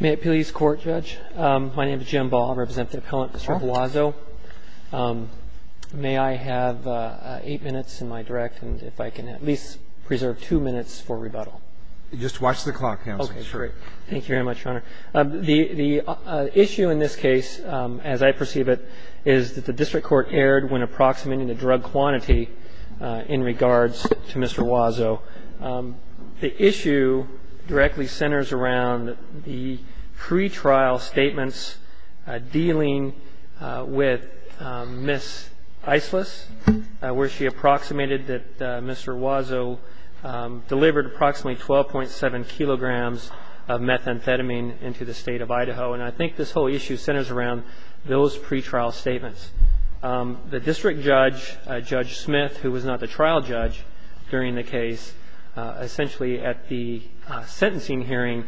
May it please court judge. My name is Jim Ball, I represent the appellant Mr. Huazo. May I have eight minutes in my direct and if I can at least preserve two minutes for rebuttal. Just watch the clock. Okay great. Thank you very much your honor. The issue in this case as I perceive it is that the district court erred when approximating the drug quantity in regards to Mr. Huazo. The pre-trial statements dealing with Miss Islis where she approximated that Mr. Huazo delivered approximately 12.7 kilograms of methamphetamine into the state of Idaho and I think this whole issue centers around those pre-trial statements. The district judge, Judge Smith, who was not the trial judge during the case, essentially at the sentencing hearing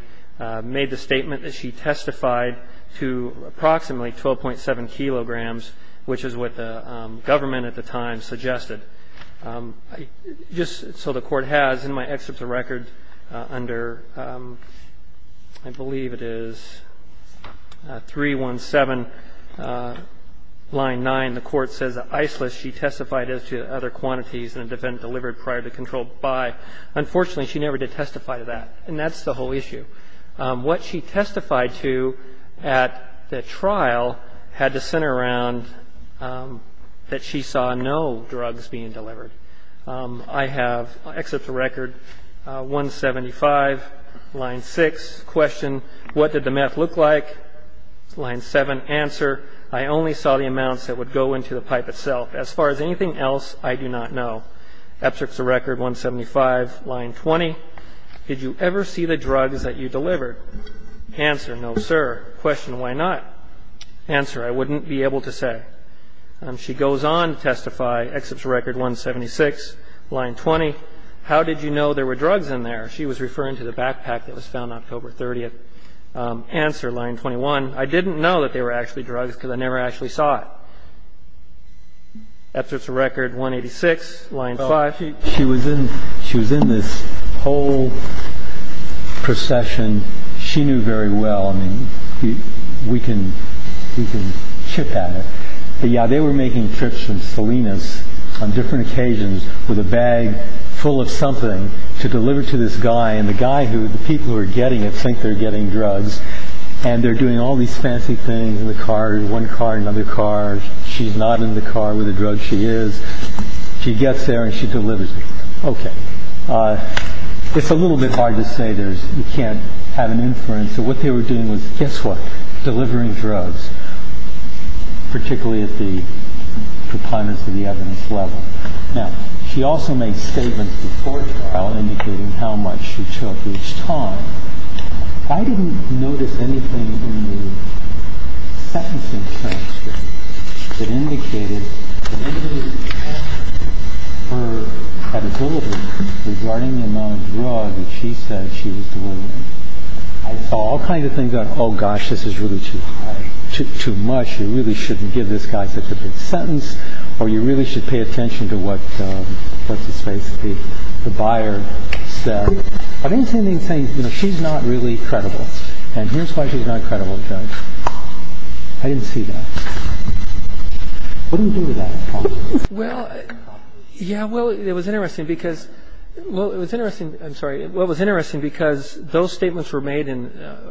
made the statement that she testified to approximately 12.7 kilograms which is what the government at the time suggested. Just so the court has in my excerpts of record under I believe it is 317 line 9 the court says Islis she testified as to other quantities that have been delivered prior to controlled by. Unfortunately she never did testify to that and that's the whole issue. What she testified to at the trial had to center around that she saw no drugs being delivered. I have excerpts of record 175 line 6 question what did the meth look like line 7 answer I only saw the amounts that would go into the pipe itself as far as anything else I do not know. Excerpts of record 175 line 20 did you ever see the drugs that you delivered answer no sir question why not answer I wouldn't be able to say and she goes on to testify excerpts record 176 line 20 how did you know there were drugs in there she was referring to the backpack that was found October 30th answer line 21 I didn't know that they were actually drugs because I never actually saw it. Excerpts of record 186 line 5 she was in she was in this whole procession she knew very well I mean we can we can chip at it but yeah they were making trips from Salinas on different occasions with a bag full of something to deliver to this guy and the guy who the people who are getting it think they're getting drugs and they're doing all these fancy things in the car one car another car she's not in the car with a drug she is she gets there and she delivers it okay it's a little bit hard to say there's you can't have an inference so what they were doing was guess what delivering drugs particularly at the proponents of the evidence level now she also makes statements before trial indicating how much she took each time I didn't notice anything in the sentencing transcript that indicated her credibility regarding the amount of drugs she said she was delivering. I saw all kinds of things on oh gosh this is really too high too much you really shouldn't give this guy such a big sentence or you really should pay attention to what what's his face the buyer said I didn't see anything saying you know she's not really credible and here's why she's not credible judge I didn't see that well yeah well it was interesting because well it was interesting I'm sorry what was interesting because those statements were made in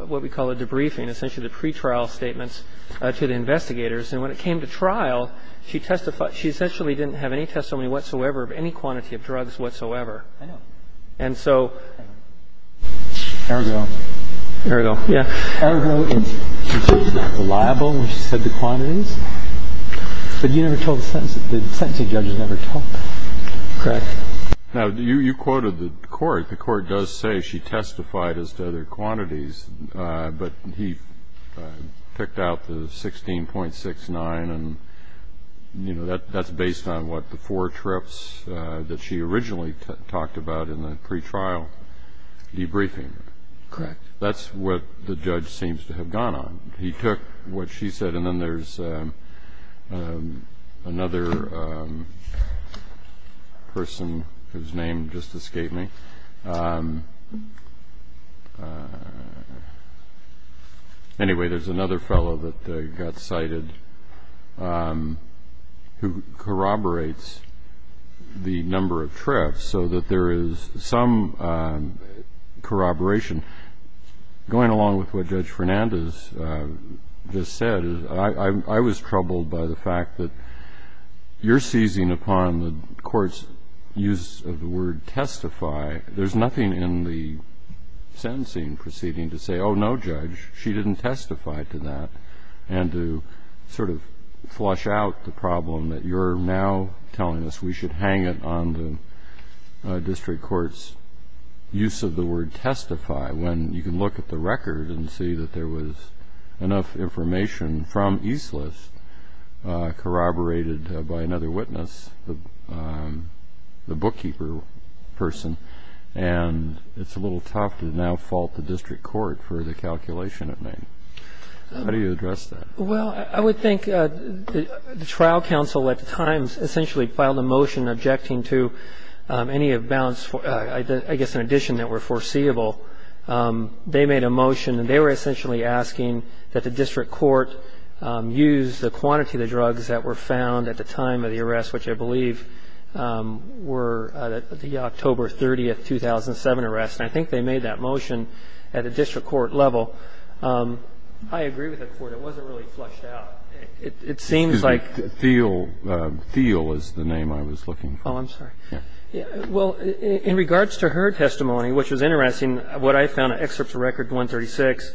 what we call a debriefing essentially the pretrial statements to the investigators and when it came to trial she testified she essentially didn't have any testimony whatsoever of quantity of drugs whatsoever and so there we go there we go yeah reliable when she said the quantities but you never told the sentence the sentencing judges never talk correct now do you you quoted the court the court does say she testified as to other quantities but he picked out the 16.69 and you know that that's based on what the four trips that she originally talked about in the pretrial debriefing correct that's what the judge seems to have gone on he took what she said and then there's another person whose name just escaped me anyway there's another fellow that got cited who corroborates the number of trips so that there is some corroboration going along with what judge Fernandez just said I was troubled by the fact that you're seizing upon the courts use of the word testify there's nothing in the sentencing proceeding to say oh no judge she didn't testify to that and to sort of flush out the problem that you're now telling us we should hang it on the district courts use of the word testify when you can look at the record and see that there was enough information from Eastlis corroborated by another witness the the bookkeeper person and it's a district court for the calculation of name how do you address that well I would think the trial counsel at the times essentially filed a motion objecting to any of balance I guess in addition that were foreseeable they made a motion and they were essentially asking that the district court use the quantity of the drugs that were found at the time of the arrest which I believe were the October 30th 2007 arrest I think they made that motion at a district court level I agree with the court it wasn't really flushed out it seems like feel feel is the name I was looking oh I'm sorry yeah well in regards to her testimony which was interesting what I found excerpts record 136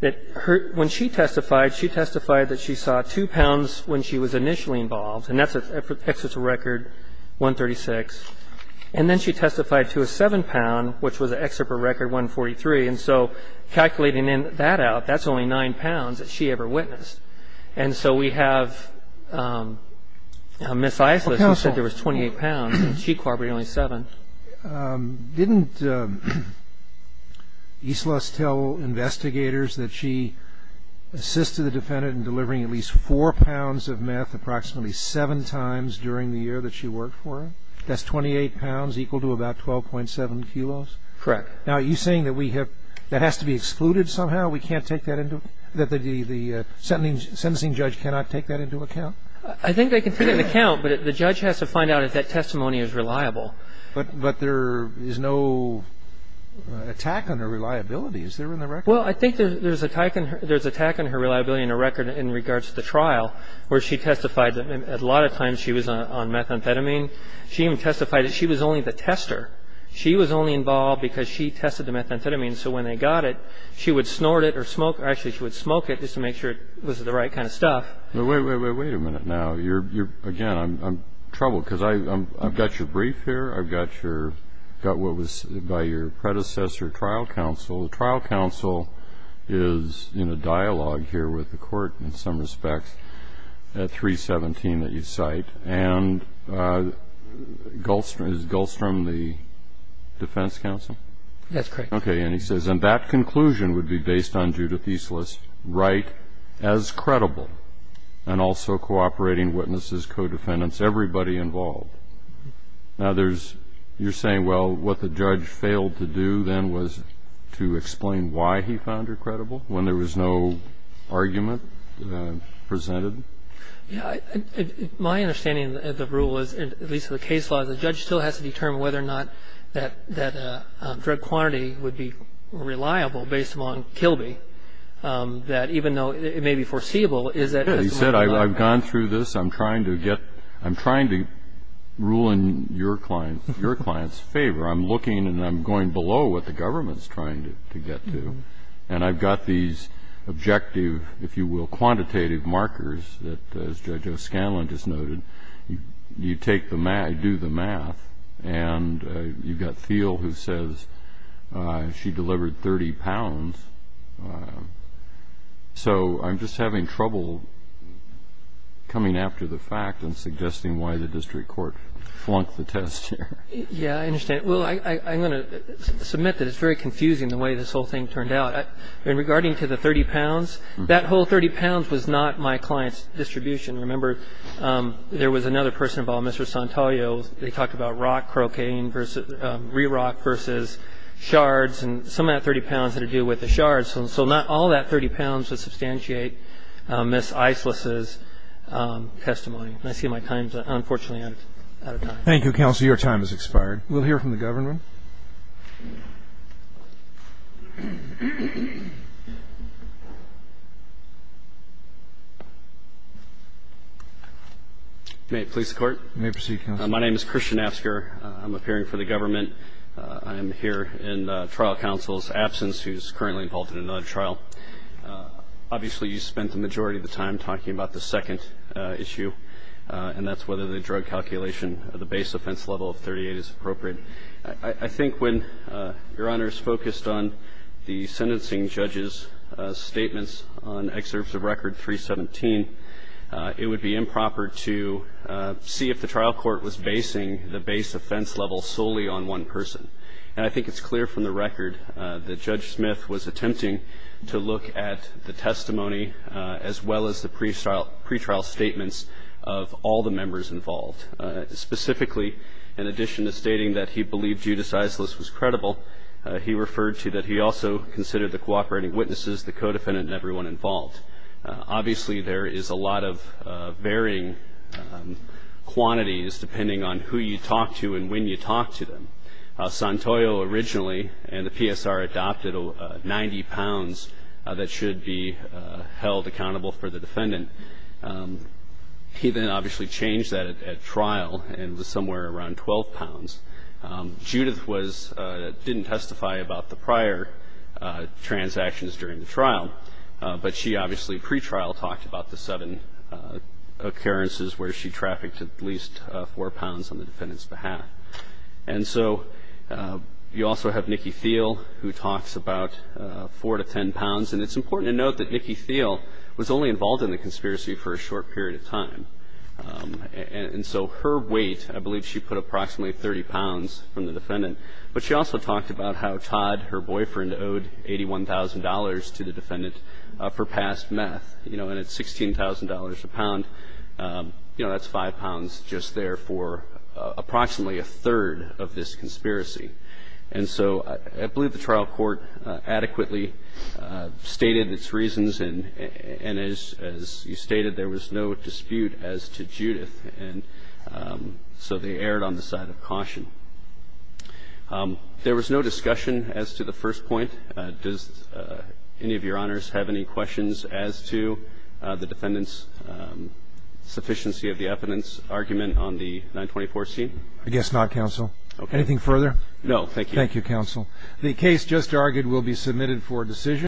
that hurt when she testified she testified that she saw two pounds when she was initially involved and that's a picture to record 136 and then she testified to a seven pound which was an excerpt of record 143 and so calculating in that out that's only nine pounds that she ever witnessed and so we have a Miss Isla said there was 28 pounds and she corroborated only seven didn't Eastlis tell investigators that she assisted the defendant in delivering at least four pounds of meth approximately seven times during the year that she worked for that's 28 pounds equal to about 12.7 kilos correct now you saying that we have that has to be excluded somehow we can't take that into that the the sentencing judge cannot take that into account I think they can take an account but the judge has to find out if that testimony is reliable but but there is no attack on her reliability is there in the record well I think there's a type and there's attack on her reliability in a record in regards to the trial where she testified that a lot of times she was on methamphetamine she even testified that she was only the tester she was only involved because she tested the methamphetamine so when they got it she would snort it or smoke actually she would smoke it just to make sure it was the right kind of stuff wait a minute now you're again I'm troubled because I've got your brief here I've got your got what was by your predecessor trial counsel the trial counsel is in a dialogue here with the court in some respects at 317 that you cite and Gulfstream is Gulfstream the defense counsel that's correct okay and he says and that conclusion would be based on Judith Eastlis right as credible and also cooperating witnesses co-defendants everybody involved now there's you're saying well what the judge failed to do then was to explain why he found her when there was no argument presented yeah my understanding of the rule is at least the case law the judge still has to determine whether or not that that drug quantity would be reliable based among Kilby that even though it may be foreseeable is that he said I've gone through this I'm trying to get I'm trying to rule in your clients your clients favor I'm looking and I'm going below what the government's trying to get to and I've got these objective if you will quantitative markers that judge O'Scanlan just noted you take the man I do the math and you've got feel who says she delivered 30 pounds so I'm just having trouble coming after the fact and suggesting why the district court flunk the test yeah I understand well I'm going to submit that it's very confusing the way this whole thing turned out in regarding to the 30 pounds that whole 30 pounds was not my clients distribution remember there was another person involved mr. Santoyo they talked about rock croquet inverse re-rock versus shards and some of that 30 pounds that are due with the shards and so not all that 30 pounds would substantiate miss Islis's testimony I see my times thank you counsel your time has expired we'll hear from the government may it please the court may proceed my name is Christian asker I'm appearing for the government I am here in trial counsel's absence who's currently involved in another trial obviously you spent the majority of the time talking about the second issue and that's whether the drug calculation of the base offense level of 38 is appropriate I think when your honor is focused on the sentencing judges statements on excerpts of record 317 it would be improper to see if the trial court was basing the base offense level solely on one person and I think it's clear from the record that judge Smith was attempting to look at the testimony as well as the pre-trial pre-trial statements of all the members involved specifically in addition to stating that he believed you decides this was credible he referred to that he also considered the cooperating witnesses the co-defendant and everyone involved obviously there is a lot of varying quantities depending on who you talk to and when you talk to him Santoyo originally and the PSR adopted 90 pounds that should be held accountable for the defendant he then obviously changed that at trial and was somewhere around 12 pounds Judith was didn't testify about the prior transactions during the trial but she obviously pre-trial talked about the seven occurrences where she trafficked at least four pounds on the defendant's path and so you also have Nikki feel who talks about four to ten pounds and it's important to note that Nikki feel was only involved in the conspiracy for a short period of time and so her weight I believe she put approximately 30 pounds from the defendant but she also talked about how Todd her boyfriend owed $81,000 to the defendant for past meth you know and it's $16,000 a pound you know that's five pounds just there for approximately a third of this conspiracy and so I believe the trial court adequately stated its reasons and and as you stated there was no dispute as to Judith and so they erred on the side of caution there was no discussion as to the first point does any of your honors have any questions as to the defendants sufficiency of the evidence argument on the 924 scene I guess not counsel anything further no thank you counsel the case just argued will be submitted for decision